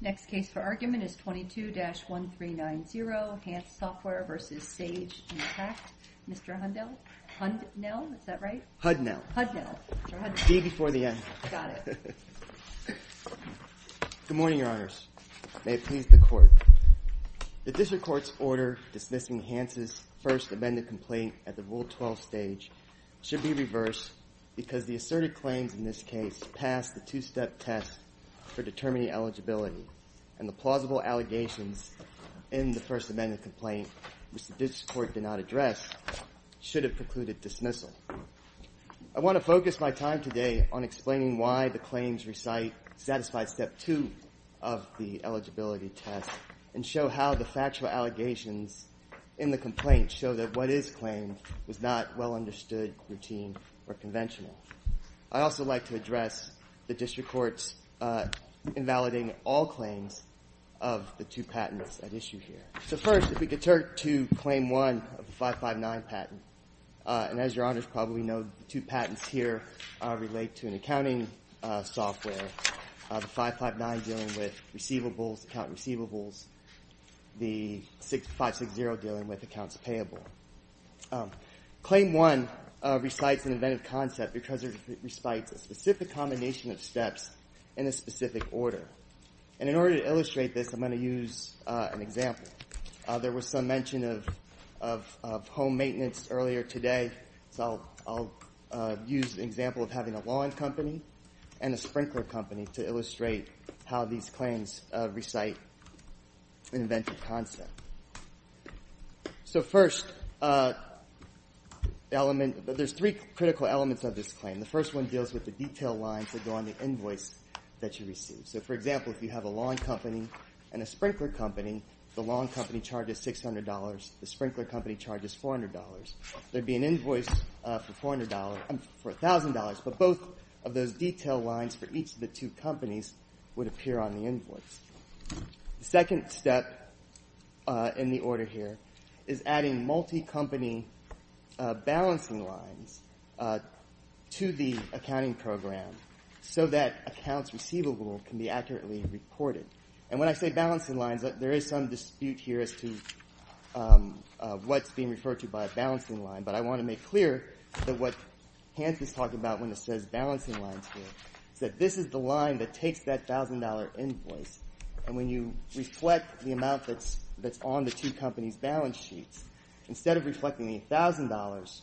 Next case for argument is 22-1390, Hantz Software v. Sage Intact. Mr. Hundell? Hundnell? Is that right? Hudnell. Hudnell. Mr. Hudnell. D before the N. Got it. Good morning, Your Honors. May it please the Court. The District Court's order dismissing Hantz's first amended complaint at the Rule 12 stage should be reversed because the asserted claims in this case pass the two-step test for determining eligibility, and the plausible allegations in the first amended complaint, which the District Court did not address, should have precluded dismissal. I want to focus my time today on explaining why the claims recite satisfied Step 2 of the eligibility test and show how the factual allegations in the complaint show that what is claimed was not well understood, routine, or conventional. I'd also like to address the District Court's invalidating all claims of the two patents at issue here. So first, if we could turn to Claim 1 of the 559 patent. And as Your Honors probably know, the two patents here relate to an accounting software, the 559 dealing with receivables, account receivables, the 560 dealing with accounts payable. Claim 1 recites an inventive concept because it recites a specific combination of steps in a specific order. And in order to illustrate this, I'm going to use an example. There was some mention of home maintenance earlier today, so I'll use the example of having a lawn company and a sprinkler company to illustrate how these claims recite an inventive concept. So first, there's three critical elements of this claim. The first one deals with the detail lines that go on the invoice that you receive. So, for example, if you have a lawn company and a sprinkler company, the lawn company charges $600, the sprinkler company charges $400. There would be an invoice for $1,000, but both of those detail lines for each of the two companies would appear on the invoice. The second step in the order here is adding multi-company balancing lines to the accounting program so that accounts receivable can be accurately reported. And when I say balancing lines, there is some dispute here as to what's being referred to by a balancing line, but I want to make clear that what Hans is talking about when he says balancing lines here, is that this is the line that takes that $1,000 invoice, and when you reflect the amount that's on the two companies' balance sheets, instead of reflecting the $1,000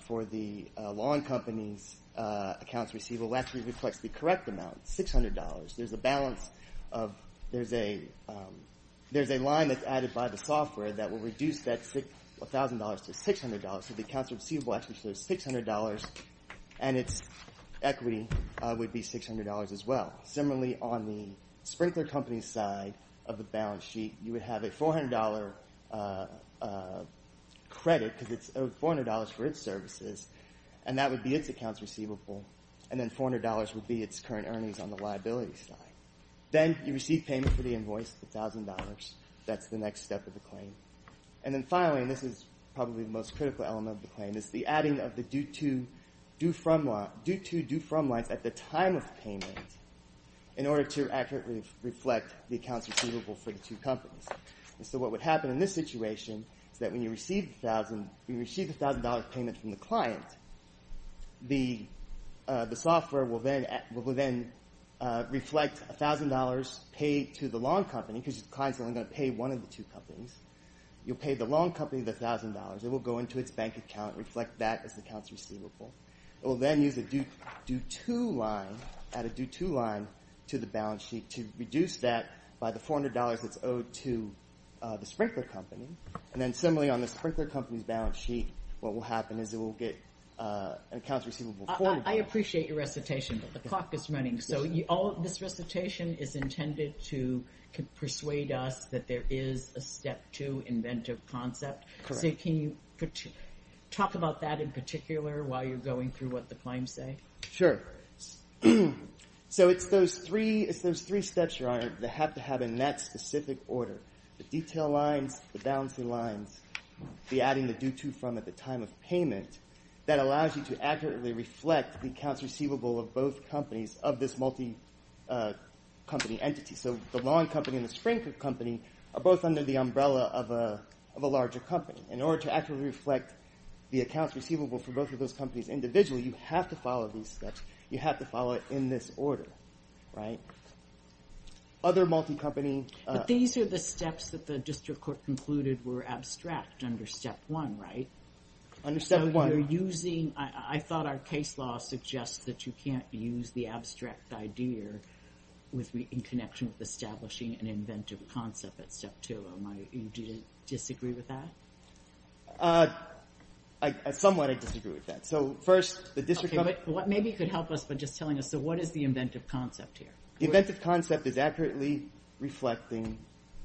for the lawn company's accounts receivable, it actually reflects the correct amount, $600. There's a line that's added by the software that will reduce that $1,000 to $600, so the accounts receivable actually shows $600, and its equity would be $600 as well. Similarly, on the sprinkler company's side of the balance sheet, you would have a $400 credit because it's owed $400 for its services, and that would be its accounts receivable, and then $400 would be its current earnings on the liability side. Then you receive payment for the invoice, the $1,000. That's the next step of the claim. And then finally, and this is probably the most critical element of the claim, is the adding of the due-to-due-from lines at the time of payment in order to accurately reflect the accounts receivable for the two companies. And so what would happen in this situation is that when you receive the $1,000 payment from the client, the software will then reflect $1,000 paid to the long company because the client's only going to pay one of the two companies. You'll pay the long company the $1,000. It will go into its bank account and reflect that as the accounts receivable. It will then use a due-to line, add a due-to line to the balance sheet to reduce that by the $400 that's owed to the sprinkler company. And then similarly on the sprinkler company's balance sheet, what will happen is it will get an accounts receivable. I appreciate your recitation, but the clock is running. So this recitation is intended to persuade us that there is a step two inventive concept. Correct. So can you talk about that in particular while you're going through what the claims say? Sure. So it's those three steps, Ryan, that have to have in that specific order. The detail lines, the balancing lines, the adding the due-to from at the time of payment, that allows you to accurately reflect the accounts receivable of both companies of this multi-company entity. So the long company and the sprinkler company are both under the umbrella of a larger company. In order to accurately reflect the accounts receivable for both of those companies individually, you have to follow these steps. You have to follow it in this order. Other multi-company. But these are the steps that the district court concluded were abstract under step one, right? Under step one. I thought our case law suggests that you can't use the abstract idea in connection with establishing an inventive concept at step two. Do you disagree with that? Somewhat I disagree with that. Maybe you could help us by just telling us, so what is the inventive concept here? The inventive concept is accurately reflecting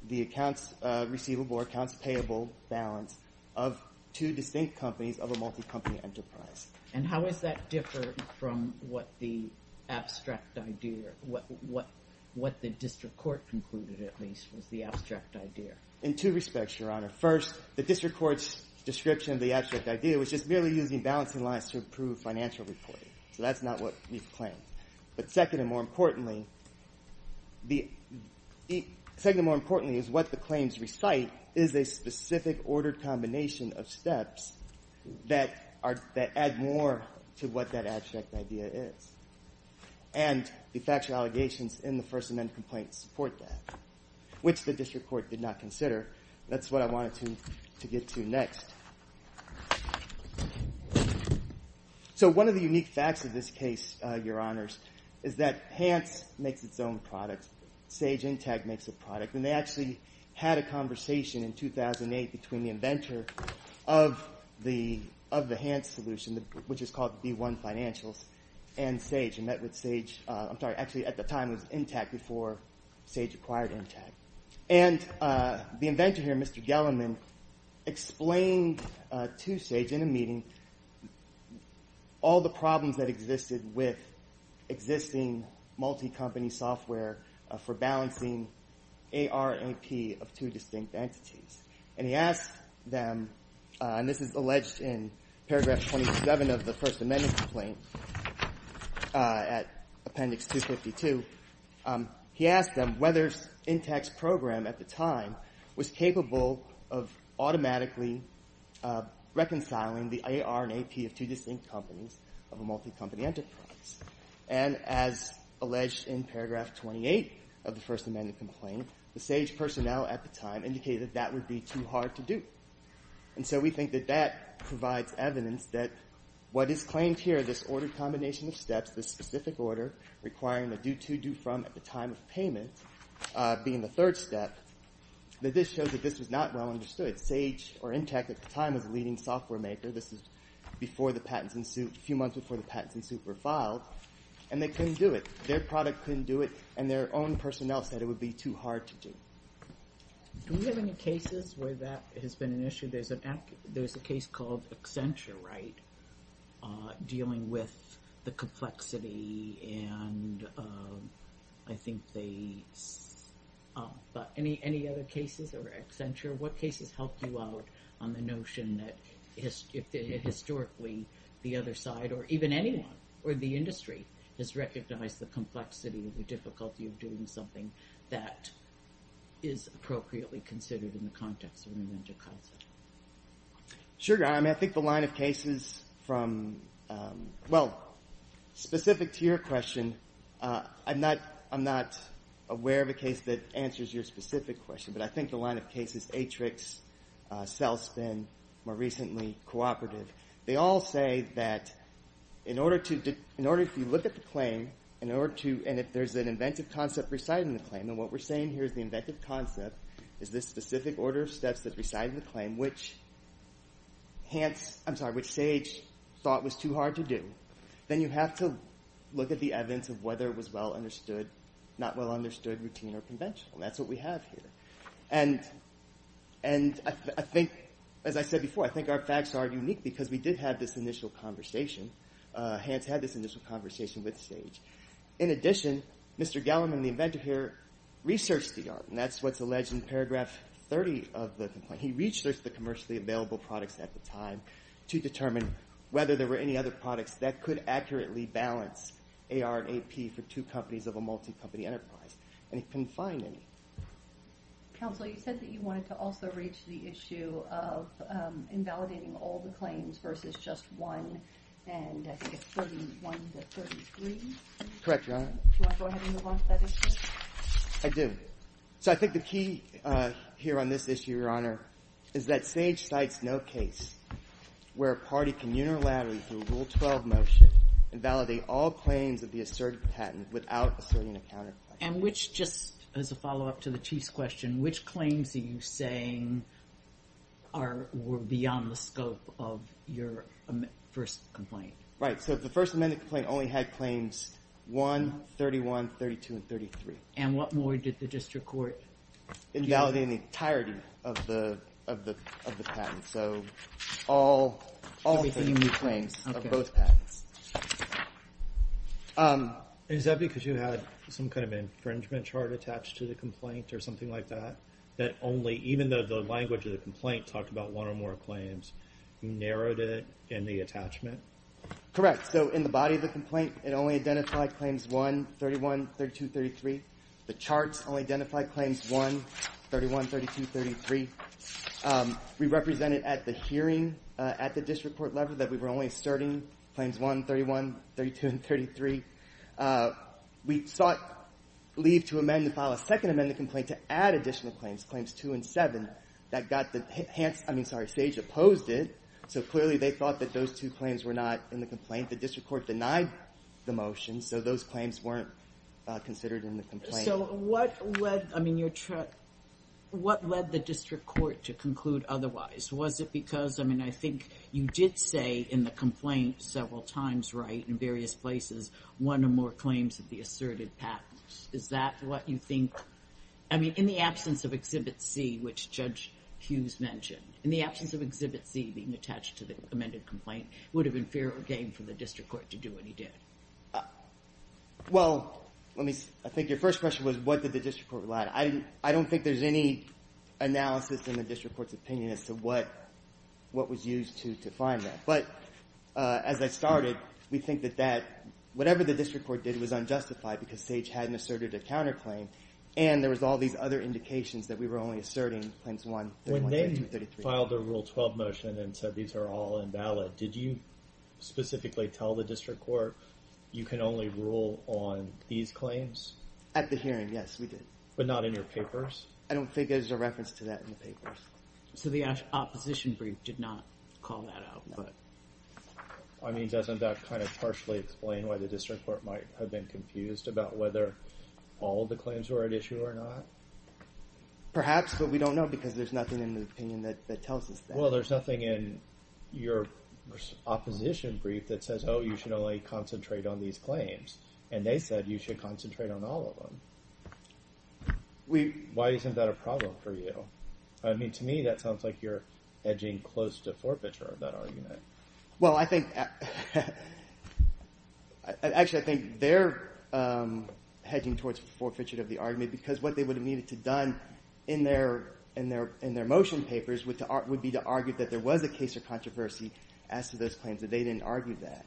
the accounts receivable or accounts payable balance of two distinct companies of a multi-company enterprise. And how does that differ from what the abstract idea, what the district court concluded, at least, was the abstract idea? In two respects, Your Honor. First, the district court's description of the abstract idea was just merely using balancing lines to improve financial reporting. So that's not what we've claimed. But second and more importantly, what the claims recite is a specific ordered combination of steps that add more to what that abstract idea is. And the factual allegations in the First Amendment complaint support that, which the district court did not consider. That's what I wanted to get to next. So one of the unique facts of this case, Your Honors, is that Hans makes its own product. Sage Intech makes a product. And they actually had a conversation in 2008 between the inventor of the Hans solution, which is called B1 Financials, and Sage. And met with Sage – I'm sorry, actually at the time it was Intech before Sage acquired Intech. And the inventor here, Mr. Gellinman, explained to Sage in a meeting all the problems that existed with existing multi-company software for balancing AR and AP of two distinct entities. And he asked them – and this is alleged in paragraph 27 of the First Amendment complaint at appendix 252 – he asked them whether Intech's program at the time was capable of automatically reconciling the AR and AP of two distinct companies of a multi-company enterprise. And as alleged in paragraph 28 of the First Amendment complaint, the Sage personnel at the time indicated that would be too hard to do. And so we think that that provides evidence that what is claimed here, this order combination of steps, this specific order requiring a do-to-do-from at the time of payment being the third step, that this shows that this was not well understood. Sage or Intech at the time was a leading software maker. This was a few months before the patents in suit were filed. And they couldn't do it. Their product couldn't do it. And their own personnel said it would be too hard to do. Do we have any cases where that has been an issue? There's a case called Accenture, right, dealing with the complexity. And I think they – but any other cases over Accenture? What cases help you out on the notion that historically the other side or even anyone or the industry has recognized the complexity or the difficulty of doing something that is appropriately considered in the context of an inter-council? Sure. I mean, I think the line of cases from – well, specific to your question, I'm not aware of a case that answers your specific question. But I think the line of cases, Atrix, Cellspin, more recently Cooperative, they all say that in order to – in order – if you look at the claim, in order to – I'm sorry, which Sage thought was too hard to do, then you have to look at the evidence of whether it was well understood, not well understood, routine, or conventional. And that's what we have here. And I think, as I said before, I think our facts are unique because we did have this initial conversation. Hans had this initial conversation with Sage. In addition, Mr. Galliman, the inventor here, researched the art. And that's what's alleged in paragraph 30 of the complaint. And he researched the commercially available products at the time to determine whether there were any other products that could accurately balance AR and AP for two companies of a multi-company enterprise. And he couldn't find any. Counsel, you said that you wanted to also reach the issue of invalidating all the claims versus just one, and I think it's 31 to 33. Correct, Your Honor. Do you want to go ahead and move on to that issue? I do. So I think the key here on this issue, Your Honor, is that Sage cites no case where a party can unilaterally, through a Rule 12 motion, invalidate all claims of the asserted patent without asserting a counterclaim. And which, just as a follow-up to the Chief's question, which claims are you saying were beyond the scope of your first complaint? Right. So the first amended complaint only had claims 1, 31, 32, and 33. And what more did the district court do? Invalidating the entirety of the patent. So all claims of both patents. Is that because you had some kind of infringement chart attached to the complaint or something like that? That only, even though the language of the complaint talked about one or more claims, you narrowed it in the attachment? Correct. So in the body of the complaint, it only identified claims 1, 31, 32, and 33. The charts only identified claims 1, 31, 32, and 33. We represented at the hearing, at the district court level, that we were only asserting claims 1, 31, 32, and 33. We sought leave to amend and file a second amended complaint to add additional claims, claims 2 and 7. Sage opposed it, so clearly they thought that those two claims were not in the complaint. The district court denied the motion, so those claims weren't considered in the complaint. So what led the district court to conclude otherwise? Was it because, I mean, I think you did say in the complaint several times, right, in various places, one or more claims of the asserted patents. Is that what you think, I mean, in the absence of Exhibit C, which Judge Hughes mentioned, in the absence of Exhibit C being attached to the amended complaint, would it have been fair or game for the district court to do what you did? Well, let me, I think your first question was, what did the district court rely on? I don't think there's any analysis in the district court's opinion as to what was used to define that. But as I started, we think that that, whatever the district court did was unjustified because Sage hadn't asserted a counterclaim, and there was all these other indications that we were only asserting claims 1, 2, and 33. When they filed the Rule 12 motion and said these are all invalid, did you specifically tell the district court you can only rule on these claims? At the hearing, yes, we did. But not in your papers? I don't think there's a reference to that in the papers. So the opposition brief did not call that out? I mean, doesn't that kind of partially explain why the district court might have been confused about whether all the claims were at issue or not? Perhaps, but we don't know because there's nothing in the opinion that tells us that. Well, there's nothing in your opposition brief that says, oh, you should only concentrate on these claims. And they said you should concentrate on all of them. Why isn't that a problem for you? I mean, to me, that sounds like you're edging close to forfeiture of that argument. Well, actually, I think they're hedging towards forfeiture of the argument because what they would have needed to have done in their motion papers would be to argue that there was a case of controversy as to those claims, that they didn't argue that.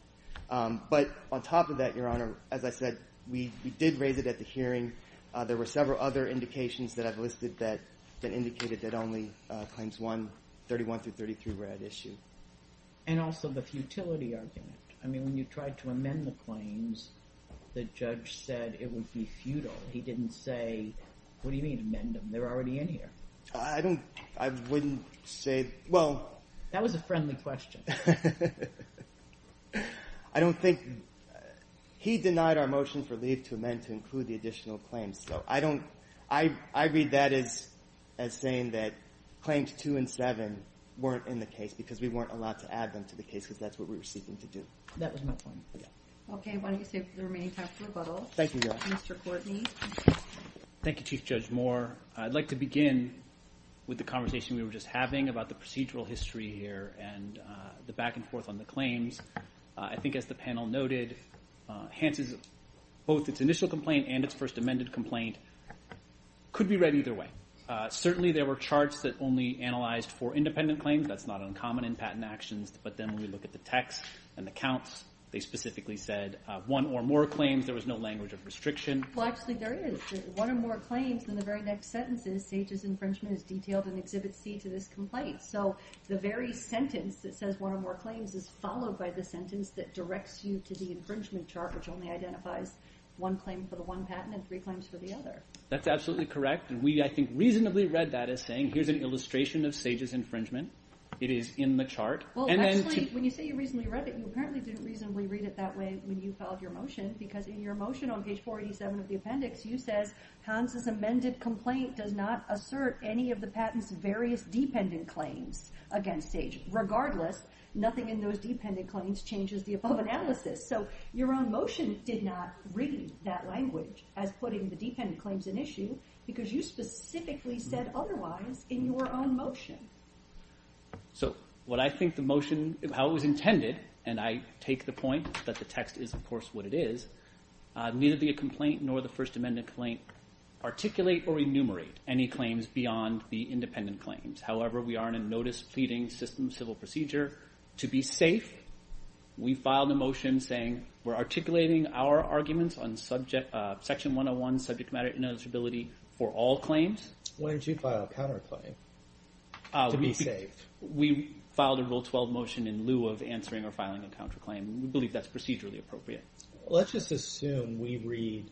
But on top of that, Your Honor, as I said, we did raise it at the hearing. There were several other indications that I've listed that indicated that only claims 31 through 33 were at issue. And also the futility argument. I mean, when you tried to amend the claims, the judge said it would be futile. He didn't say, what do you mean, amend them? They're already in here. I wouldn't say – well – That was a friendly question. I don't think – he denied our motion for leave to amend to include the additional claims. So I don't – I read that as saying that claims 2 and 7 weren't in the case because we weren't allowed to add them to the case because that's what we were seeking to do. That was my point. Okay, why don't you save the remaining time for rebuttal. Thank you, Your Honor. Mr. Courtney. Thank you, Chief Judge Moore. I'd like to begin with the conversation we were just having about the procedural history here and the back and forth on the claims. I think, as the panel noted, both its initial complaint and its first amended complaint could be read either way. Certainly, there were charts that only analyzed for independent claims. That's not uncommon in patent actions. But then when we look at the text and the counts, they specifically said one or more claims. There was no language of restriction. Well, actually, there is. One or more claims in the very next sentence is Sage's infringement is detailed in Exhibit C to this complaint. So the very sentence that says one or more claims is followed by the sentence that directs you to the infringement chart, which only identifies one claim for the one patent and three claims for the other. That's absolutely correct, and we, I think, reasonably read that as saying here's an illustration of Sage's infringement. It is in the chart. Well, actually, when you say you reasonably read it, you apparently didn't reasonably read it that way when you filed your motion because in your motion on page 487 of the appendix, you said Hans' amended complaint does not assert any of the patent's various dependent claims against Sage. Regardless, nothing in those dependent claims changes the above analysis. So your own motion did not read that language as putting the dependent claims in issue because you specifically said otherwise in your own motion. So what I think the motion, how it was intended, and I take the point that the text is, of course, what it is, neither the complaint nor the First Amendment complaint articulate or enumerate any claims beyond the independent claims. However, we are in a notice pleading system civil procedure. To be safe, we filed a motion saying we're articulating our arguments on Section 101, subject matter and eligibility for all claims. When did you file a counterclaim to be safe? We filed a Rule 12 motion in lieu of answering or filing a counterclaim. We believe that's procedurally appropriate. Let's just assume we read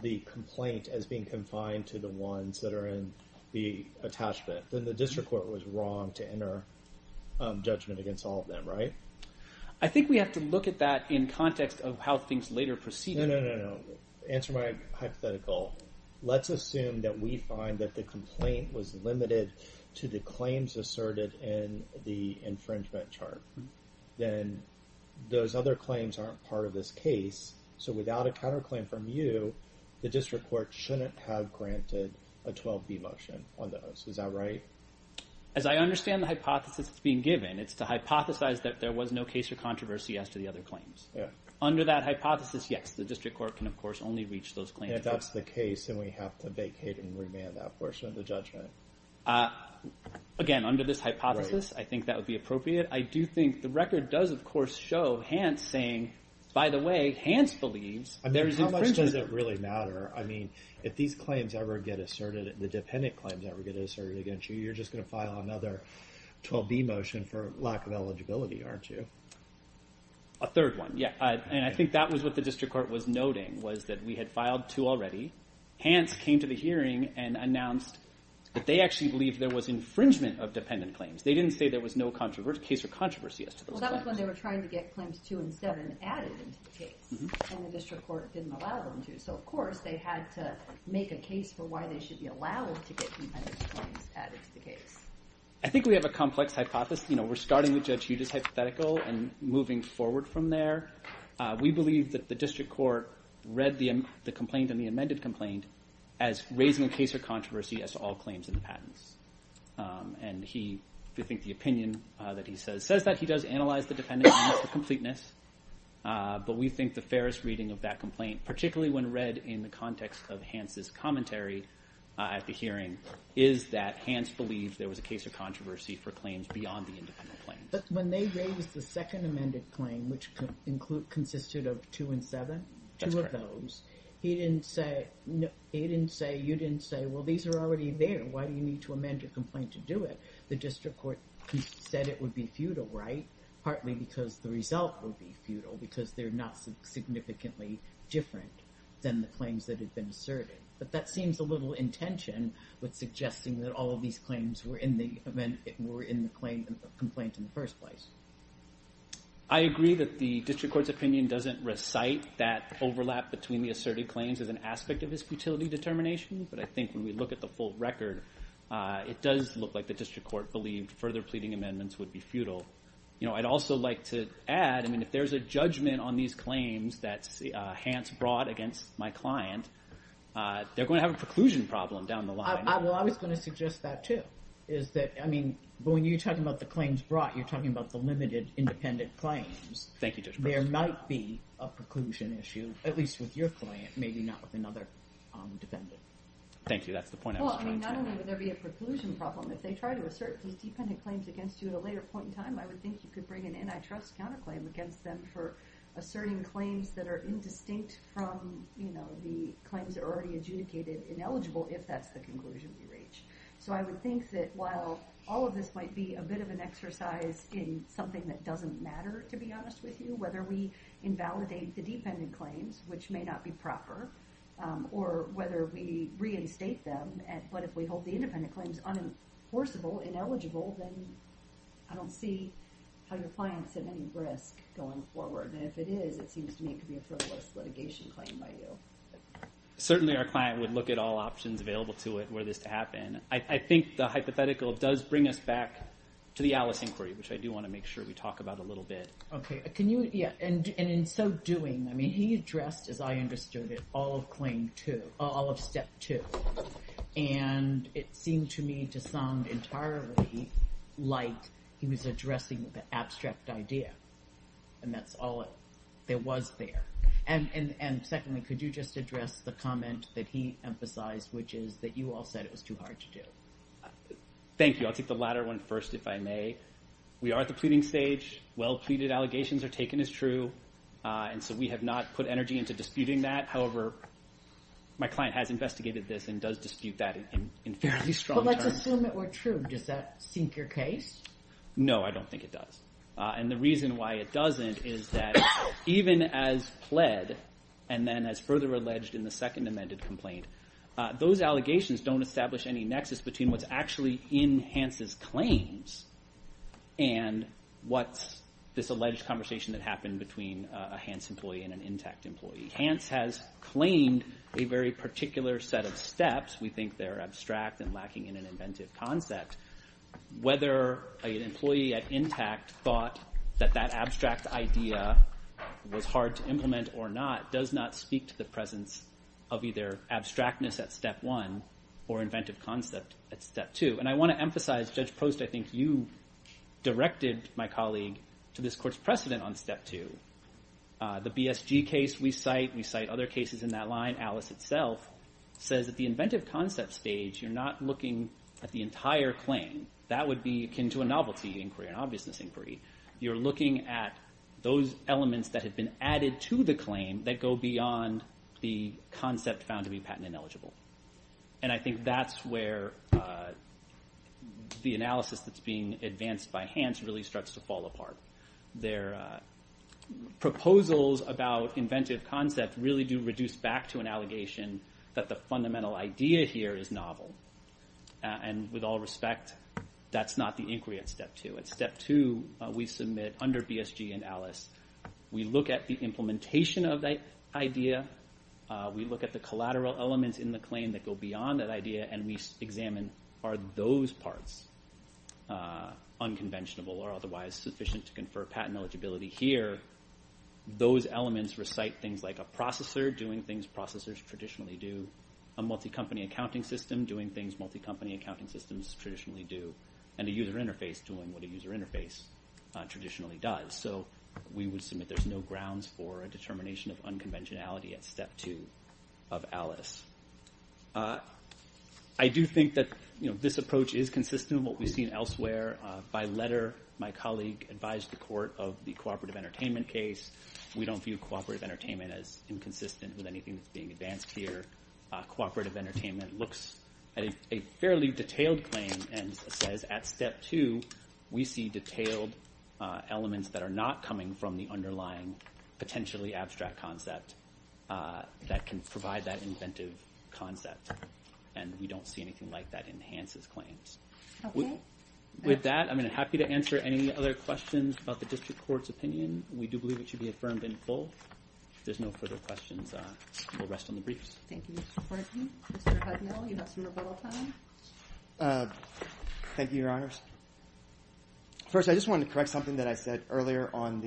the complaint as being confined to the ones that are in the attachment. Then the district court was wrong to enter judgment against all of them, right? I think we have to look at that in context of how things later proceeded. No, no, no, no. Answer my hypothetical. Let's assume that we find that the complaint was limited to the claims asserted in the infringement chart. Then those other claims aren't part of this case. So without a counterclaim from you, the district court shouldn't have granted a 12B motion on those. Is that right? As I understand the hypothesis that's being given, it's to hypothesize that there was no case or controversy as to the other claims. Yeah. Under that hypothesis, yes, the district court can, of course, only reach those claims. If that's the case, then we have to vacate and remand that portion of the judgment. Again, under this hypothesis, I think that would be appropriate. I do think the record does, of course, show Hans saying, by the way, Hans believes there is infringement. How much does it really matter? I mean, if these claims ever get asserted, the dependent claims ever get asserted against you, you're just going to file another 12B motion for lack of eligibility, aren't you? A third one, yeah. And I think that was what the district court was noting, was that we had filed two already. Hans came to the hearing and announced that they actually believed there was infringement of dependent claims. They didn't say there was no case or controversy as to those claims. Well, that was when they were trying to get claims two and seven added into the case, and the district court didn't allow them to. So, of course, they had to make a case for why they should be allowed to get dependent claims added to the case. I think we have a complex hypothesis. We're starting with Judge Huda's hypothetical and moving forward from there. We believe that the district court read the complaint and the amended complaint as raising a case or controversy as to all claims in the patents. And we think the opinion that he says says that he does analyze the dependent claims to completeness, but we think the fairest reading of that complaint, particularly when read in the context of Hans' commentary at the hearing, is that Hans believed there was a case or controversy for claims beyond the independent claims. But when they raised the second amended claim, which consisted of two and seven, two of those, he didn't say, you didn't say, well, these are already there. Why do you need to amend your complaint to do it? The district court said it would be futile, right? Partly because the result would be futile, because they're not significantly different than the claims that had been asserted. But that seems a little intention with suggesting that all of these claims were in the complaint in the first place. I agree that the district court's opinion doesn't recite that overlap between the asserted claims as an aspect of his futility determination. But I think when we look at the full record, it does look like the district court believed further pleading amendments would be futile. I'd also like to add, if there's a judgment on these claims that Hans brought against my client, they're going to have a preclusion problem down the line. Well, I was going to suggest that, too. But when you're talking about the claims brought, you're talking about the limited independent claims. Thank you, Judge Preston. There might be a preclusion issue, at least with your client, maybe not with another defendant. Thank you. That's the point I was trying to make. Well, I mean, not only would there be a preclusion problem, if they try to assert these defendant claims against you at a later point in time, I would think you could bring an antitrust counterclaim against them for asserting claims that are indistinct from the claims that are already adjudicated ineligible, if that's the conclusion we reach. So I would think that while all of this might be a bit of an exercise in something that doesn't matter, to be honest with you, whether we invalidate the defendant claims, which may not be proper, or whether we reinstate them, but if we hold the independent claims unenforceable, ineligible, then I don't see how your client's at any risk going forward. And if it is, it seems to me it could be a frivolous litigation claim by you. Certainly our client would look at all options available to it were this to happen. I think the hypothetical does bring us back to the Alice inquiry, which I do want to make sure we talk about a little bit. Okay. And in so doing, I mean, he addressed, as I understood it, all of step two. And it seemed to me to sound entirely like he was addressing the abstract idea. And that's all there was there. And secondly, could you just address the comment that he emphasized, which is that you all said it was too hard to do? Thank you. I'll take the latter one first, if I may. We are at the pleading stage. Well-pleaded allegations are taken as true. And so we have not put energy into disputing that. However, my client has investigated this and does dispute that in fairly strong terms. But let's assume it were true. Does that sink your case? No, I don't think it does. And the reason why it doesn't is that even as pled and then as further alleged in the second amended complaint, those allegations don't establish any nexus between what's actually in Hans' claims and what's this alleged conversation that happened between a Hans employee and an intact employee. Hans has claimed a very particular set of steps. We think they're abstract and lacking in an inventive concept. Whether an employee at intact thought that that abstract idea was hard to implement or not does not speak to the presence of either abstractness at step one or inventive concept at step two. And I want to emphasize, Judge Post, I think you directed my colleague to this court's precedent on step two. The BSG case we cite, we cite other cases in that line. Alice itself says that the inventive concept stage, you're not looking at the entire claim. That would be akin to a novelty inquiry, an obviousness inquiry. You're looking at those elements that have been added to the claim that go beyond the concept found to be patent ineligible. And I think that's where the analysis that's being advanced by Hans really starts to fall apart. Their proposals about inventive concept really do reduce back to an allegation that the fundamental idea here is novel. And with all respect, that's not the inquiry at step two. At step two, we submit under BSG and Alice, we look at the implementation of that idea. We look at the collateral elements in the claim that go beyond that idea and we examine are those parts unconventional or otherwise sufficient to confer patent eligibility. Here, those elements recite things like a processor doing things processors traditionally do, a multi-company accounting system doing things multi-company accounting systems traditionally do, and a user interface doing what a user interface traditionally does. So we would submit there's no grounds for a determination of unconventionality at step two of Alice. I do think that this approach is consistent with what we've seen elsewhere. By letter, my colleague advised the court of the cooperative entertainment case. We don't view cooperative entertainment as inconsistent with anything that's being advanced here. Cooperative entertainment looks at a fairly detailed claim and says at step two, we see detailed elements that are not coming from the underlying potentially abstract concept that can provide that inventive concept, and we don't see anything like that enhances claims. With that, I'm happy to answer any other questions about the district court's opinion. We do believe it should be affirmed in full. If there's no further questions, we'll rest on the briefs. Thank you, Mr. Corky. Mr. Hudnall, you have some rebuttal time. Thank you, Your Honors. First, I just wanted to correct something that I said earlier on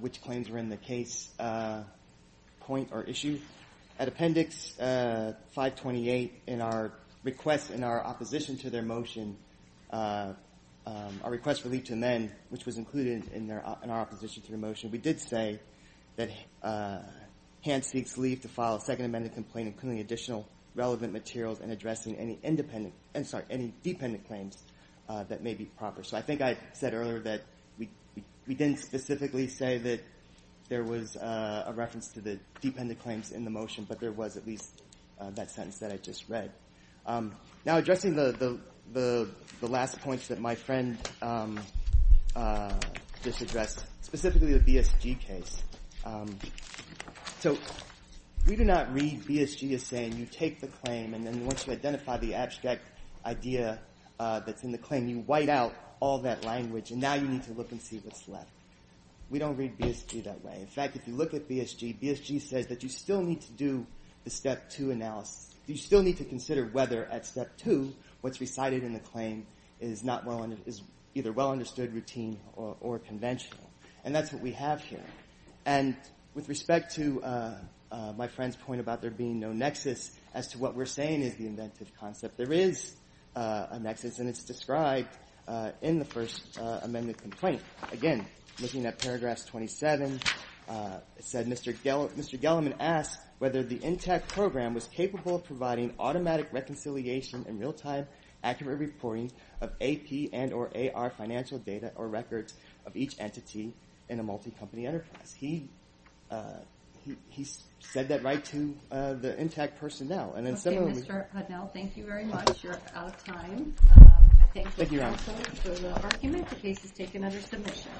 which claims were in the case point or issue. At Appendix 528, in our request in our opposition to their motion, our request for leave to amend, which was included in our opposition to the motion, we did say that Hans seeks leave to file a second amended complaint, including additional relevant materials and addressing any dependent claims that may be proper. So I think I said earlier that we didn't specifically say that there was a reference to the dependent claims in the motion, but there was at least that sentence that I just read. Now, addressing the last points that my friend just addressed, specifically the BSG case. So we do not read BSG as saying you take the claim and then once you identify the abstract idea that's in the claim, you white out all that language, and now you need to look and see what's left. We don't read BSG that way. In fact, if you look at BSG, BSG says that you still need to do the Step 2 analysis. You still need to consider whether at Step 2 what's recited in the claim is either well understood, routine, or conventional. And that's what we have here. And with respect to my friend's point about there being no nexus as to what we're saying is the inventive concept, there is a nexus, and it's described in the first amended complaint. Again, looking at paragraph 27, it said, Mr. Gelliman asked whether the NTAC program was capable of providing automatic reconciliation and real-time, accurate reporting of AP and or AR financial data or records of each entity in a multi-company enterprise. He said that right to the NTAC personnel. And then similarly- Okay, Mr. Hudnell, thank you very much. You're out of time. Thank you, counsel, for the argument. The case is taken under submission.